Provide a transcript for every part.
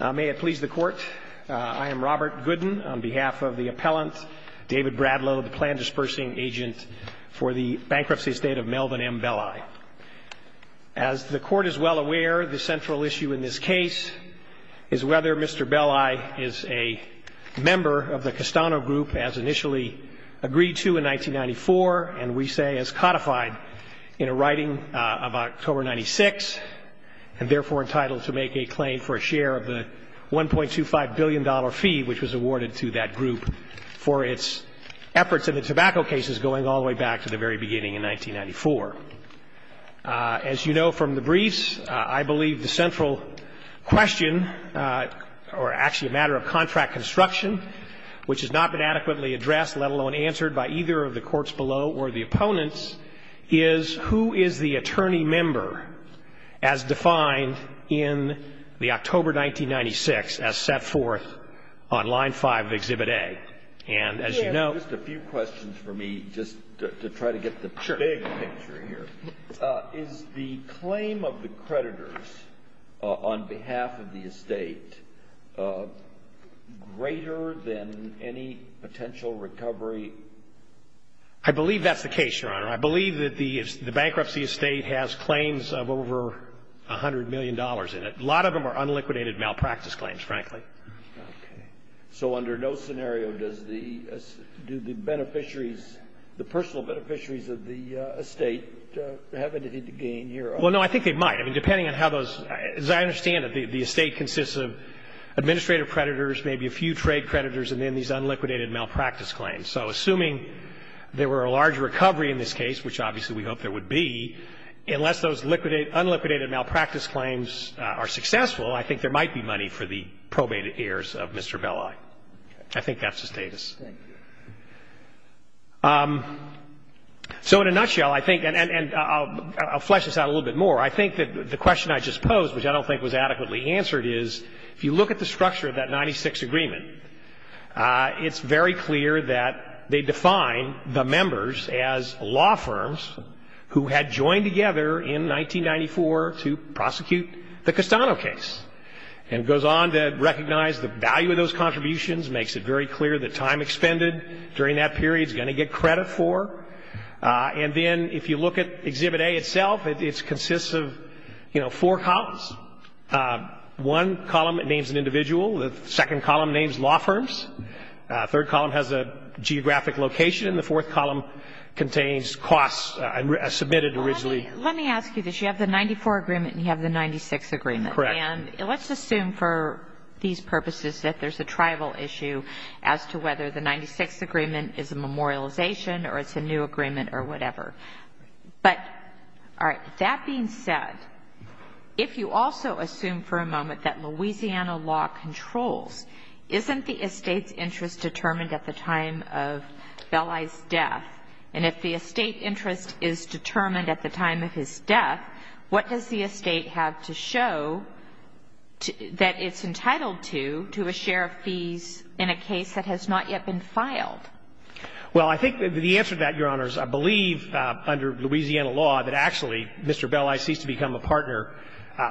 May it please the Court, I am Robert Gooden on behalf of the Appellant David Bradlow, the Plan Dispersing Agent for the Bankruptcy Estate of Melvin M. Belli. As the Court is well aware, the central issue in this case is whether Mr. Belli is a member of the Castano Group as initially agreed to in 1994, and we say is codified in a writing of October 1996, and therefore entitled to make a claim for a share of the $1.25 billion fee which was awarded to that group for its efforts in the tobacco cases going all the way back to the very beginning in 1994. As you know from the briefs, I believe the central question, or actually a matter of contract construction, which has not been adequately addressed, let alone answered by either of the courts below or the opponents, is who is the attorney member as defined in the October 1996 as set forth on line 5 of Exhibit A. And as you know Just a few questions for me just to try to get the big picture here. Sure. Is the claim of the creditors on behalf of the estate greater than any potential recovery? I believe that's the case, Your Honor. I believe that the bankruptcy estate has claims of over $100 million in it. A lot of them are unliquidated malpractice claims, frankly. Okay. So under no scenario, do the beneficiaries, the personal beneficiaries of the estate have anything to gain here? Well, no, I think they might. I mean, depending on how those — as I understand it, the estate consists of administrative creditors, maybe a few trade creditors, and then these unliquidated malpractice claims. So assuming there were a large recovery in this case, which obviously we hope there would be, unless those liquidated — unliquidated malpractice claims are successful, I think there might be money for the probated heirs of Mr. Belli. I think that's the status. Thank you. So in a nutshell, I think — and I'll flesh this out a little bit more. I think that the question I just posed, which I don't think was adequately answered, is if you look at the structure of that 96 agreement, it's very clear that they define the members as law firms who had joined together in 1994 to prosecute the Castano case. And it goes on to recognize the value of those contributions, makes it very clear the time expended during that period is going to get credit for. And then if you look at Exhibit A itself, it consists of, you know, four columns. One column names an individual. The second column names law firms. The third column has a geographic location. And the fourth column contains costs as submitted originally. Let me ask you this. You have the 94 agreement and you have the 96 agreement. Correct. And let's assume for these purposes that there's a tribal issue as to whether the 96 agreement is a memorialization or it's a new agreement or whatever. But, all right, that being said, if you also assume for a moment that Louisiana law controls, isn't the estate's interest determined at the time of Belli's death? And if the estate interest is determined at the time of his death, what does the estate have to show that it's entitled to, to a share of fees in a case that has not yet been filed? Well, I think the answer to that, Your Honors, I believe under Louisiana law that actually Mr. Belli ceased to become a partner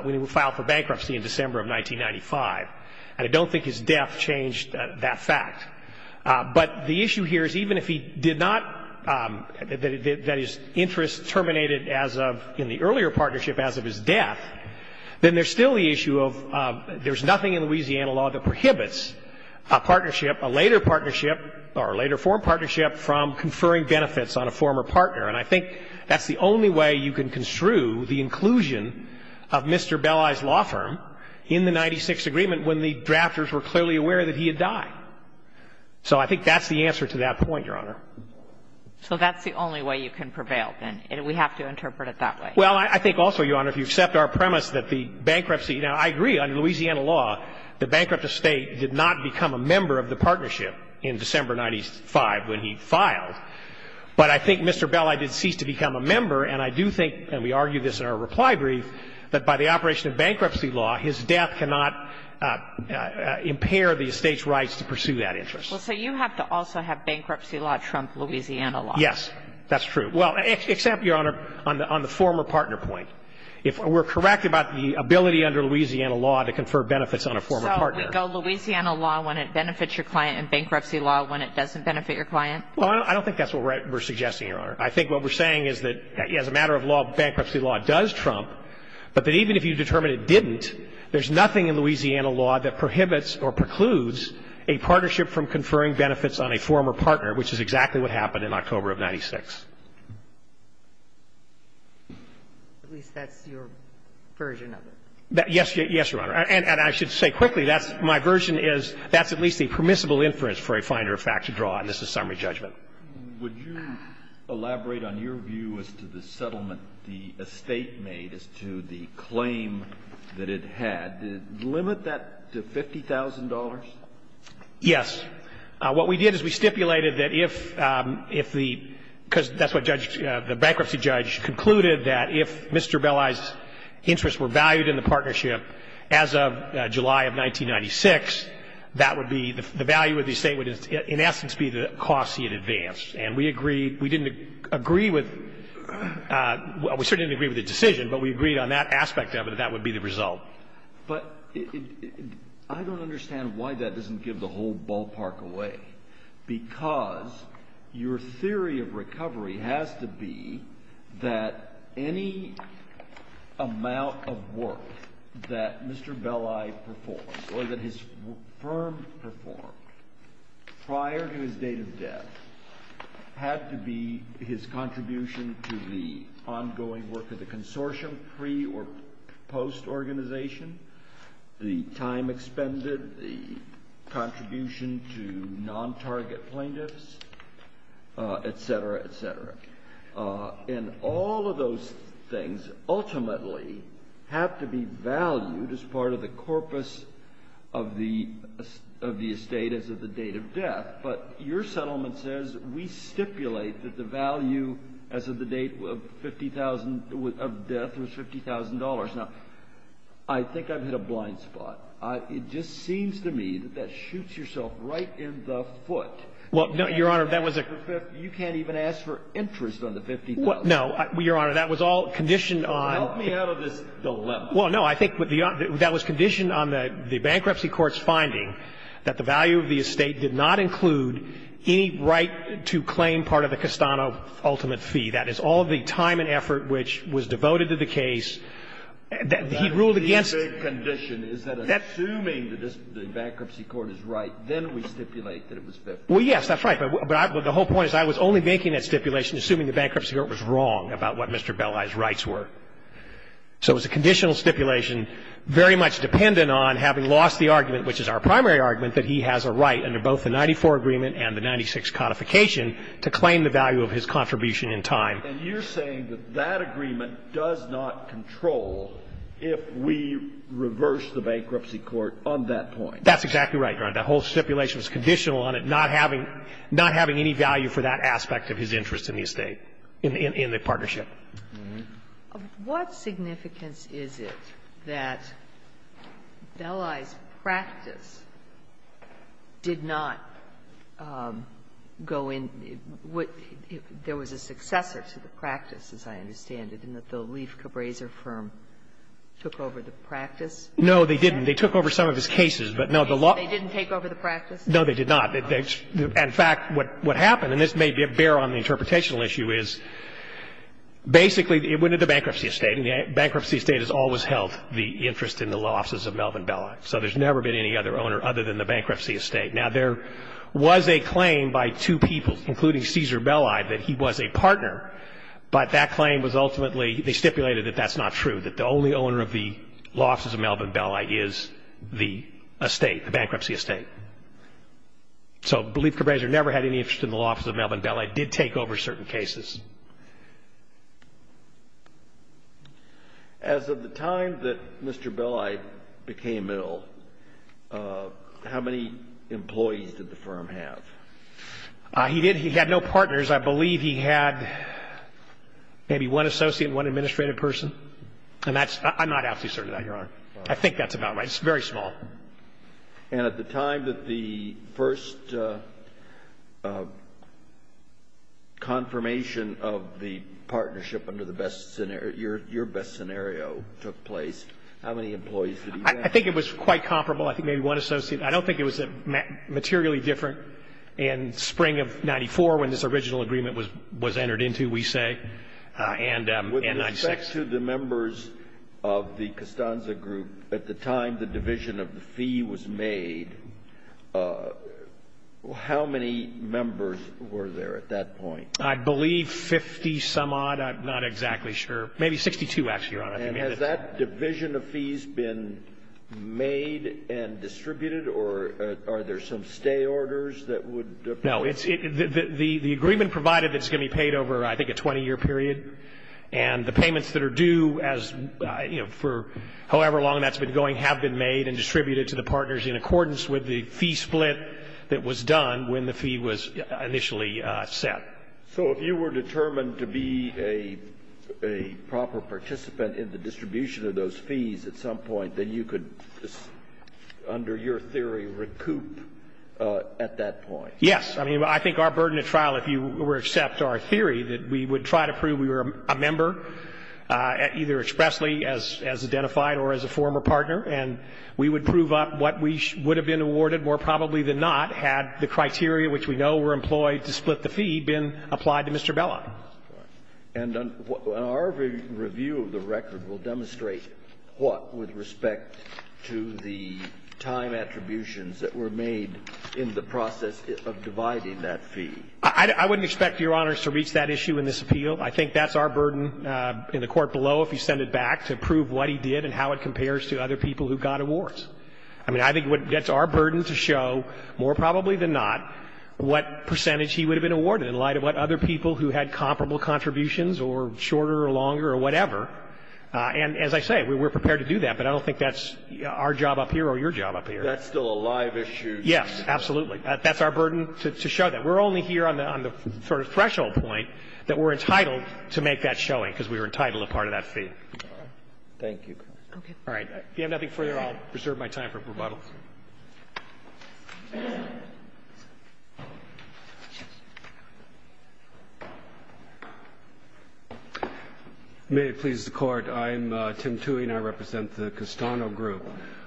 when he was filed for bankruptcy in December of 1995. And I don't think his death changed that fact. But the issue here is even if he did not, that his interest terminated in the earlier partnership as of his death, then there's still the issue of there's nothing in Louisiana law that prohibits a partnership, a later partnership or a later form partnership from conferring benefits on a former partner. And I think that's the only way you can construe the inclusion of Mr. Belli's law firm in the 96th Agreement when the drafters were clearly aware that he had died. So I think that's the answer to that point, Your Honor. So that's the only way you can prevail, then? We have to interpret it that way. Well, I think also, Your Honor, if you accept our premise that the bankruptcy – now, I agree, under Louisiana law, the bankrupt estate did not become a member of the partnership in December of 1995 when he filed, but I think Mr. Belli did cease to become a member. And I do think, and we argued this in our reply brief, that by the operation of bankruptcy law, his death cannot impair the estate's rights to pursue that interest. Well, so you have to also have bankruptcy law trump Louisiana law. Yes, that's true. Well, except, Your Honor, on the former partner point. If we're correct about the ability under Louisiana law to confer benefits on a former partner. So we go Louisiana law when it benefits your client and bankruptcy law when it doesn't benefit your client? Well, I don't think that's what we're suggesting, Your Honor. I think what we're saying is that as a matter of law, bankruptcy law does trump, but that even if you determine it didn't, there's nothing in Louisiana law that prohibits or precludes a partnership from conferring benefits on a former partner, which is exactly what happened in October of 1996. Yes, Your Honor. And I should say quickly, that's my version is that's at least a permissible inference for a finder of fact to draw, and this is summary judgment. Would you elaborate on your view as to the settlement the estate made as to the claim that it had? Did it limit that to $50,000? Yes. What we did is we stipulated that if the – because that's what the bankruptcy judge concluded, that if Mr. Belli's interests were valued in the partnership as of July of 1996, that would be – the value of the estate would in essence be the costs he had advanced. And we agreed – we didn't agree with – we certainly didn't agree with the decision, but we agreed on that aspect of it that that would be the result. But I don't understand why that doesn't give the whole ballpark away, because your theory of recovery has to be that any amount of work that Mr. Belli performed or that his firm performed prior to his date of death had to be his contribution to the ongoing work of the consortium pre- or post-organization, the time expended, the contribution to non-target plaintiffs, et cetera, et cetera. And all of those things ultimately have to be valued as part of the corpus of the estate as of the date of death. But your settlement says we stipulate that the value as of the date of death was $50,000. Now, I think I've hit a blind spot. It just seems to me that that shoots yourself right in the foot. Well, no, Your Honor, that was a – You can't even ask for interest on the $50,000. No. Your Honor, that was all conditioned on – Well, help me out of this dilemma. Well, no. I think that was conditioned on the bankruptcy court's finding that the value of the estate did not include any right to claim part of the Castano ultimate fee. That is all the time and effort which was devoted to the case. He ruled against – The only big condition is that assuming the bankruptcy court is right, then we stipulate that it was $50,000. Well, yes, that's right. But the whole point is I was only making that stipulation assuming the bankruptcy court was wrong about what Mr. Belli's rights were. So it was a conditional stipulation very much dependent on having lost the argument, which is our primary argument, that he has a right under both the 94 agreement and the 96 codification to claim the value of his contribution in time. And you're saying that that agreement does not control if we reverse the bankruptcy court on that point. That's exactly right, Your Honor. That whole stipulation was conditional on it not having any value for that aspect of his interest in the estate, in the partnership. Sotomayor, what significance is it that Belli's practice did not go in – there was a successor to the practice, as I understand it, in that the Leaf Cabraser firm took over the practice? No, they didn't. They took over some of his cases. But no, the law – They didn't take over the practice? No, they did not. In fact, what happened, and this may bear on the interpretational issue, is basically it went to the bankruptcy estate, and the bankruptcy estate has always held the interest in the law offices of Melvin Belli. So there's never been any other owner other than the bankruptcy estate. Now, there was a claim by two people, including Cesar Belli, that he was a partner, but that claim was ultimately – they stipulated that that's not true, that the only owner of the law offices of Melvin Belli is the estate, the bankruptcy estate. So Leaf Cabraser never had any interest in the law offices of Melvin Belli, did take over certain cases. As of the time that Mr. Belli became ill, how many employees did the firm have? He did – he had no partners. I believe he had maybe one associate and one administrative person, and that's – I'm not absolutely certain of that, Your Honor. I think that's about right. It's very small. And at the time that the first confirmation of the partnership under the best scenario – your best scenario took place, how many employees did he have? I think it was quite comparable. I think maybe one associate. I don't think it was materially different in spring of 94 when this original agreement was entered into, we say, and 96. With respect to the members of the Costanza Group, at the time the division of the fee was made, how many members were there at that point? I believe 50-some-odd. I'm not exactly sure. Maybe 62, actually, Your Honor. And has that division of fees been made and distributed, or are there some stay orders that would apply? No. The agreement provided that's going to be paid over, I think, a 20-year period, and the payments that are due as, you know, for however long that's been going have been made and distributed to the partners in accordance with the fee split that was done when the fee was initially set. So if you were determined to be a proper participant in the distribution of those fees at some point, then you could, under your theory, recoup at that point? Yes. I mean, I think our burden at trial, if you would accept our theory, that we would try to prove we were a member, either expressly as identified or as a former partner, and we would prove up what we would have been awarded, more probably than not, had the criteria which we know were employed to split the fee been applied to Mr. Bellock. And our review of the record will demonstrate what, with respect to the time attributions that were made in the process of dividing that fee. I wouldn't expect, Your Honors, to reach that issue in this appeal. I think that's our burden in the court below, if you send it back, to prove what he did and how it compares to other people who got awards. I mean, I think that's our burden to show, more probably than not, what percentage he would have been awarded in light of what other people who had comparable contributions or shorter or longer or whatever. And as I say, we're prepared to do that, but I don't think that's our job up here or your job up here. That's still a live issue. Yes, absolutely. That's our burden to show that. We're only here on the sort of threshold point that we're entitled to make that showing because we were entitled to part of that fee. Thank you. Okay. All right. If you have nothing further, I'll reserve my time for rebuttal. May it please the Court. I'm Tim Tuohy, and I represent the Castano Group.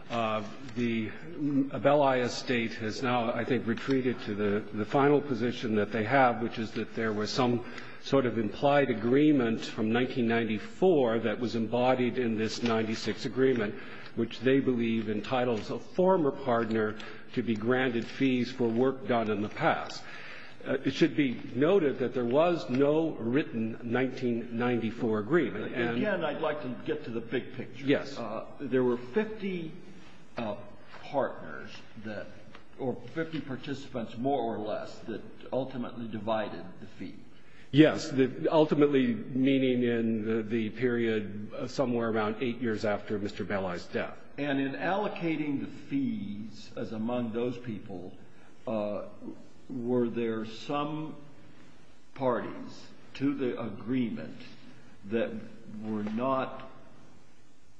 The Abellaia State has now, I think, retreated to the final position that they have, which is that there was some sort of implied agreement from 1994 that was embodied in this 96 agreement, which they believe entitles a former partner to be granted fees for work done in the past. It should be noted that there was no written 1994 agreement. And again, I'd like to get to the big picture. Yes. There were 50 partners or 50 participants, more or less, that ultimately divided the fee. Yes. Ultimately, meaning in the period somewhere around eight years after Mr. Abellaia's death. And in allocating the fees as among those people, were there some parties to the agreement that were not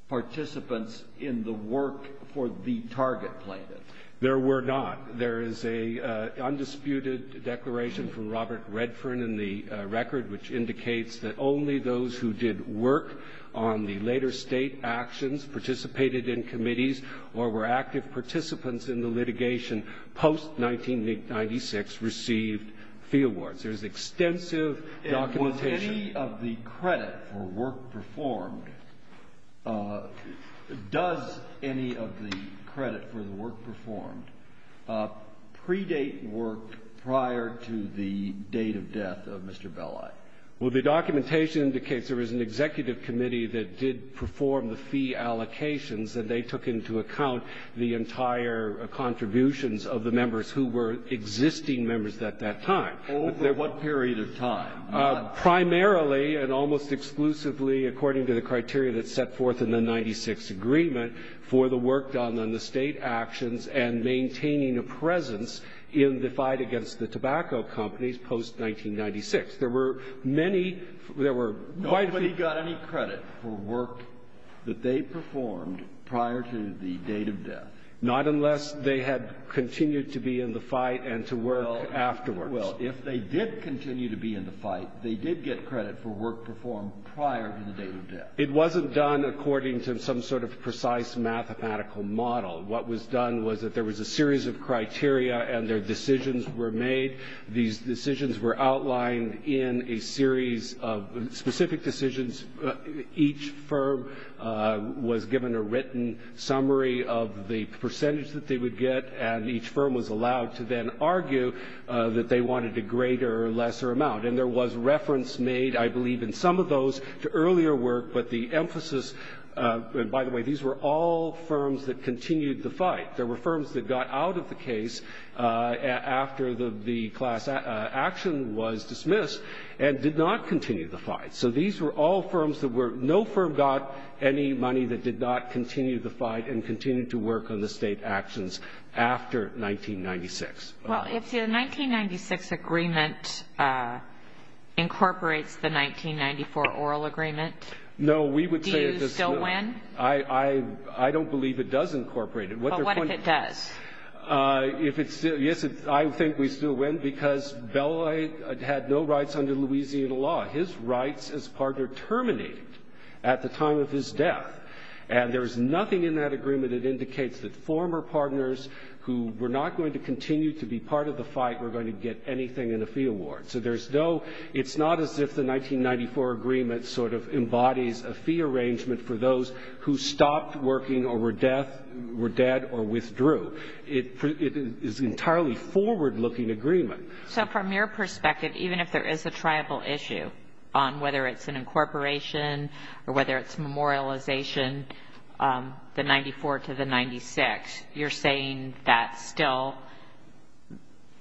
participants in the work for the target plaintiff? There were not. There is an undisputed declaration from Robert Redfern in the record which indicates that only those who did work on the later state actions, participated in committees, or were active participants in the litigation post-1996 received fee awards. There's extensive documentation. Any of the credit for work performed, does any of the credit for the work performed predate work prior to the date of death of Mr. Abellaia? Well, the documentation indicates there was an executive committee that did perform the fee allocations, and they took into account the entire contributions of the members who were existing members at that time. Over what period of time? Primarily and almost exclusively according to the criteria that's set forth in the 96th Agreement for the work done on the state actions and maintaining a presence in the fight against the tobacco companies post-1996. There were many, there were quite a few. Nobody got any credit for work that they performed prior to the date of death? Not unless they had continued to be in the fight and to work afterwards. If they did continue to be in the fight, they did get credit for work performed prior to the date of death. It wasn't done according to some sort of precise mathematical model. What was done was that there was a series of criteria and their decisions were made. These decisions were outlined in a series of specific decisions. Each firm was given a written summary of the percentage that they would get, and each firm was allowed to then argue that they wanted a greater or lesser amount. And there was reference made, I believe, in some of those to earlier work, but the emphasis, and by the way, these were all firms that continued the fight. There were firms that got out of the case after the class action was dismissed and did not continue the fight. So these were all firms that were, no firm got any money that did not continue the Well, if the 1996 agreement incorporates the 1994 oral agreement, do you still win? No, we would say it does not. I don't believe it does incorporate it. But what if it does? Yes, I think we still win because Beloit had no rights under Louisiana law. His rights as partner terminated at the time of his death, and there is nothing in that part of the fight we're going to get anything in a fee award. So there's no, it's not as if the 1994 agreement sort of embodies a fee arrangement for those who stopped working or were dead or withdrew. It is an entirely forward-looking agreement. So from your perspective, even if there is a tribal issue on whether it's an incorporation or whether it's memorialization, the 94 to the 96, you're saying that still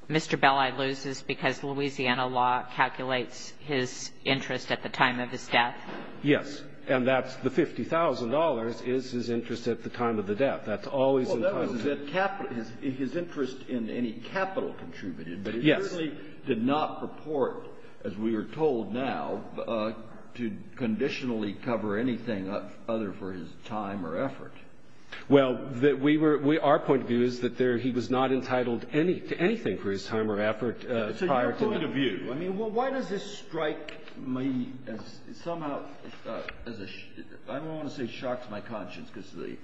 Mr. Beloit loses because Louisiana law calculates his interest at the time of his death? Yes. And that's the $50,000 is his interest at the time of the death. That's always included. Well, that was his interest in any capital contributed. Yes. He certainly did not purport, as we are told now, to conditionally cover anything other for his time or effort. Well, our point of view is that he was not entitled to anything for his time or effort prior to that. So your point of view, I mean, well, why does this strike me as somehow as a, I don't want to say shocks my conscience because the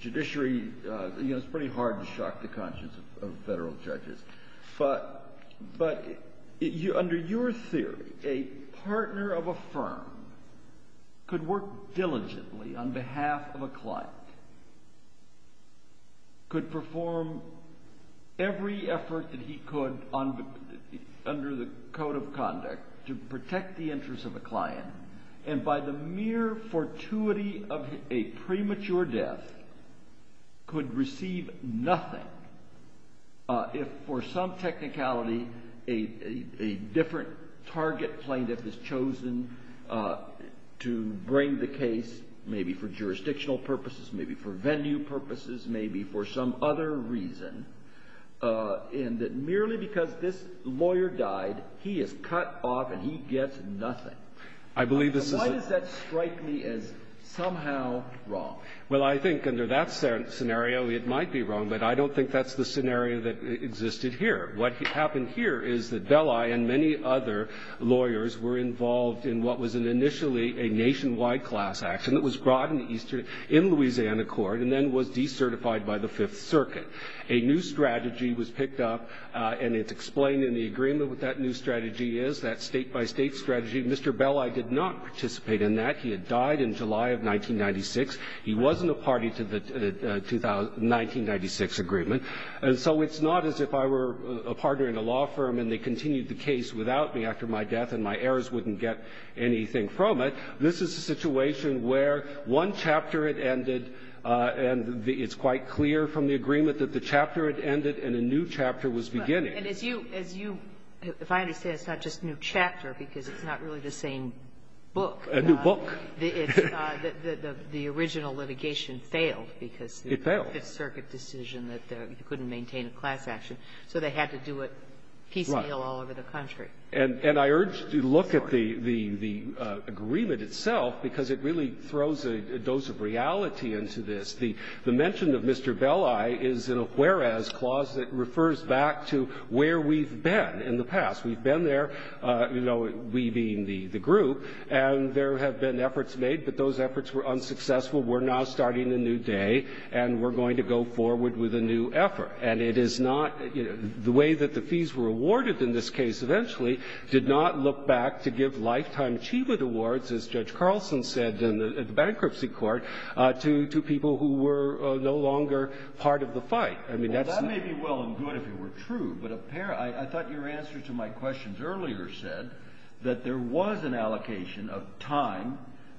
judiciary, you know, it's pretty hard to shock the conscience of Federal judges. But under your theory, a partner of a firm could work diligently on behalf of a client, could perform every effort that he could under the code of conduct to protect the interest of a client, and by the mere fortuity of a premature death, could receive nothing if fortuitous. So for some technicality, a different target plaintiff is chosen to bring the case maybe for jurisdictional purposes, maybe for venue purposes, maybe for some other reason, and that merely because this lawyer died, he is cut off and he gets nothing. I believe this is a — Why does that strike me as somehow wrong? Well, I think under that scenario, it might be wrong, but I don't think that's the scenario that existed here. What happened here is that Belli and many other lawyers were involved in what was initially a nationwide class action that was brought in Louisiana court and then was decertified by the Fifth Circuit. A new strategy was picked up, and it's explained in the agreement what that new strategy is, that state-by-state strategy. Mr. Belli did not participate in that. He had died in July of 1996. He wasn't a party to the 1996 agreement. And so it's not as if I were a partner in a law firm and they continued the case without me after my death and my heirs wouldn't get anything from it. This is a situation where one chapter had ended, and it's quite clear from the agreement that the chapter had ended and a new chapter was beginning. And as you — as you — if I understand, it's not just a new chapter because it's not really the same book. A new book. The original litigation failed because the Fifth Circuit decision that you couldn't maintain a class action, so they had to do it piecemeal all over the country. And I urge you to look at the agreement itself because it really throws a dose of reality into this. The mention of Mr. Belli is in a whereas clause that refers back to where we've been in the past. We've been there, you know, we being the group. And there have been efforts made, but those efforts were unsuccessful. We're now starting a new day, and we're going to go forward with a new effort. And it is not — the way that the fees were awarded in this case eventually did not look back to give lifetime achievement awards, as Judge Carlson said in the bankruptcy court, to people who were no longer part of the fight. I mean, that's — I thought your answer to my questions earlier said that there was an allocation of time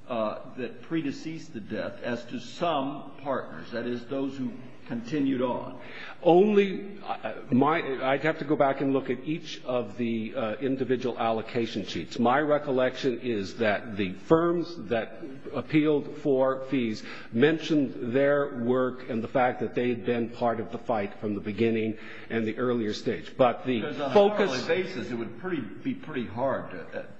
that predeceased the death as to some partners, that is, those who continued on. Only — I'd have to go back and look at each of the individual allocation sheets. My recollection is that the firms that appealed for fees mentioned their work and the fact that they had been part of the fight from the beginning and the earlier stage. But the focus — Because on a hourly basis, it would be pretty hard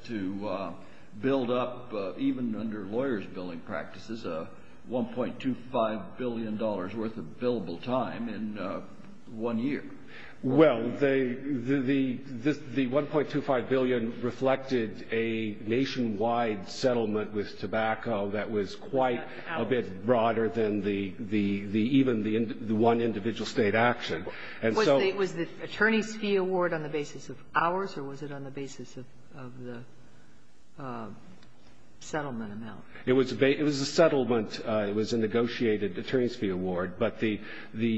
to build up, even under lawyers' billing practices, $1.25 billion worth of billable time in one year. Well, the $1.25 billion reflected a nationwide settlement with tobacco that was quite a bit higher than the one individual State action. And so — Was the attorneys' fee award on the basis of hours, or was it on the basis of the settlement amount? It was a settlement. It was a negotiated attorneys' fee award. But the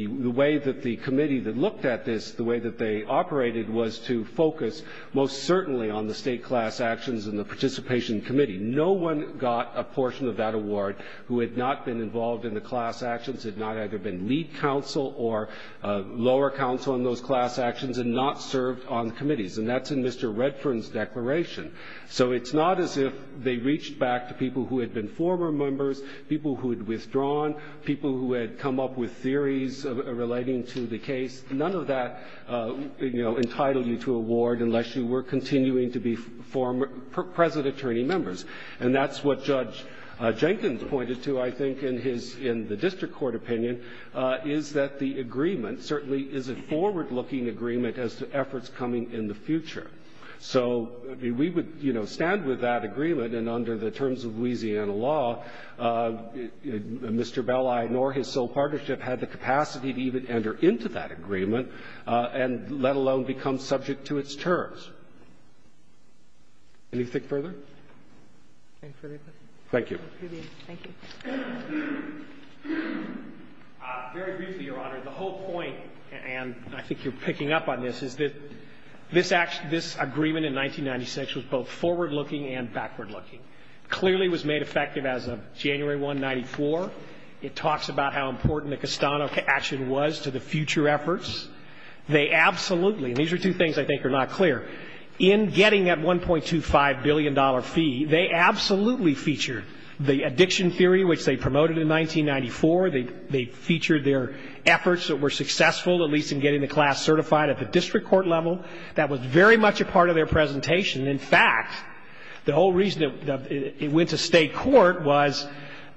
way that the committee that looked at this, the way that they operated, was to focus most certainly on the State class actions and the participation committee. No one got a portion of that award who had not been involved in the class actions, had not either been lead counsel or lower counsel in those class actions, and not served on committees. And that's in Mr. Redfern's declaration. So it's not as if they reached back to people who had been former members, people who had withdrawn, people who had come up with theories relating to the case. None of that entitled you to award unless you were continuing to be present attorney members. And that's what Judge Jenkins pointed to, I think, in his — in the district court opinion, is that the agreement certainly is a forward-looking agreement as to efforts coming in the future. So we would, you know, stand with that agreement, and under the terms of Louisiana law, Mr. Bell, I ignore his sole partnership, had the capacity to even enter into that agreement, and let alone become subject to its terms. Anything further? Thank you. Thank you. Very briefly, Your Honor, the whole point, and I think you're picking up on this, is that this agreement in 1996 was both forward-looking and backward-looking. Clearly, it was made effective as of January 1, 1994. It talks about how important the Castano action was to the future efforts. They absolutely — and these are two things I think are not clear. In getting that $1.25 billion fee, they absolutely featured the addiction theory, which they promoted in 1994. They featured their efforts that were successful, at least in getting the class certified at the district court level. That was very much a part of their presentation. In fact, the whole reason it went to state court was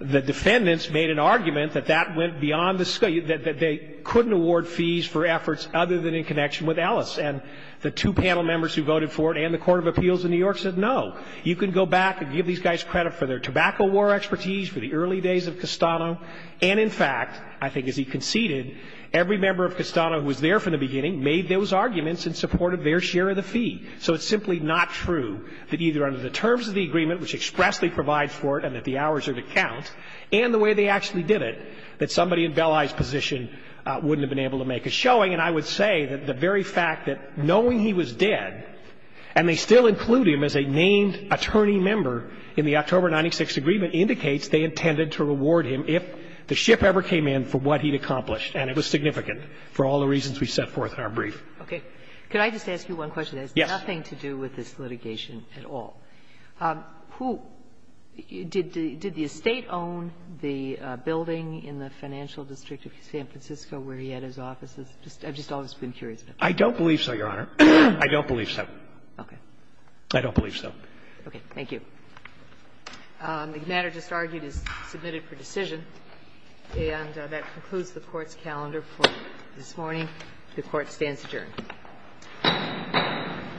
the defendants made an argument that that went beyond the — that they couldn't award fees for efforts other than in connection with Ellis. And the two panel members who voted for it and the court of appeals in New York said, no, you can go back and give these guys credit for their tobacco war expertise, for the early days of Castano. And in fact, I think as he conceded, every member of Castano who was there from the beginning made those arguments in support of their share of the fee. So it's simply not true that either under the terms of the agreement, which expressly provides for it and that the hours are to count, and the way they actually did it, that somebody in Belli's position wouldn't have been able to make a showing. And I would say that the very fact that knowing he was dead, and they still include him as a named attorney member in the October 96 agreement, indicates they intended to reward him if the ship ever came in for what he'd accomplished. And it was significant for all the reasons we set forth in our brief. Okay. Could I just ask you one question? Yes. That has nothing to do with this litigation at all. Who — did the estate own the building in the financial district of San Francisco where he had his offices? I've just always been curious about that. I don't believe so, Your Honor. I don't believe so. Okay. I don't believe so. Okay. Thank you. The matter just argued is submitted for decision. And that concludes the Court's calendar for this morning. The Court stands adjourned.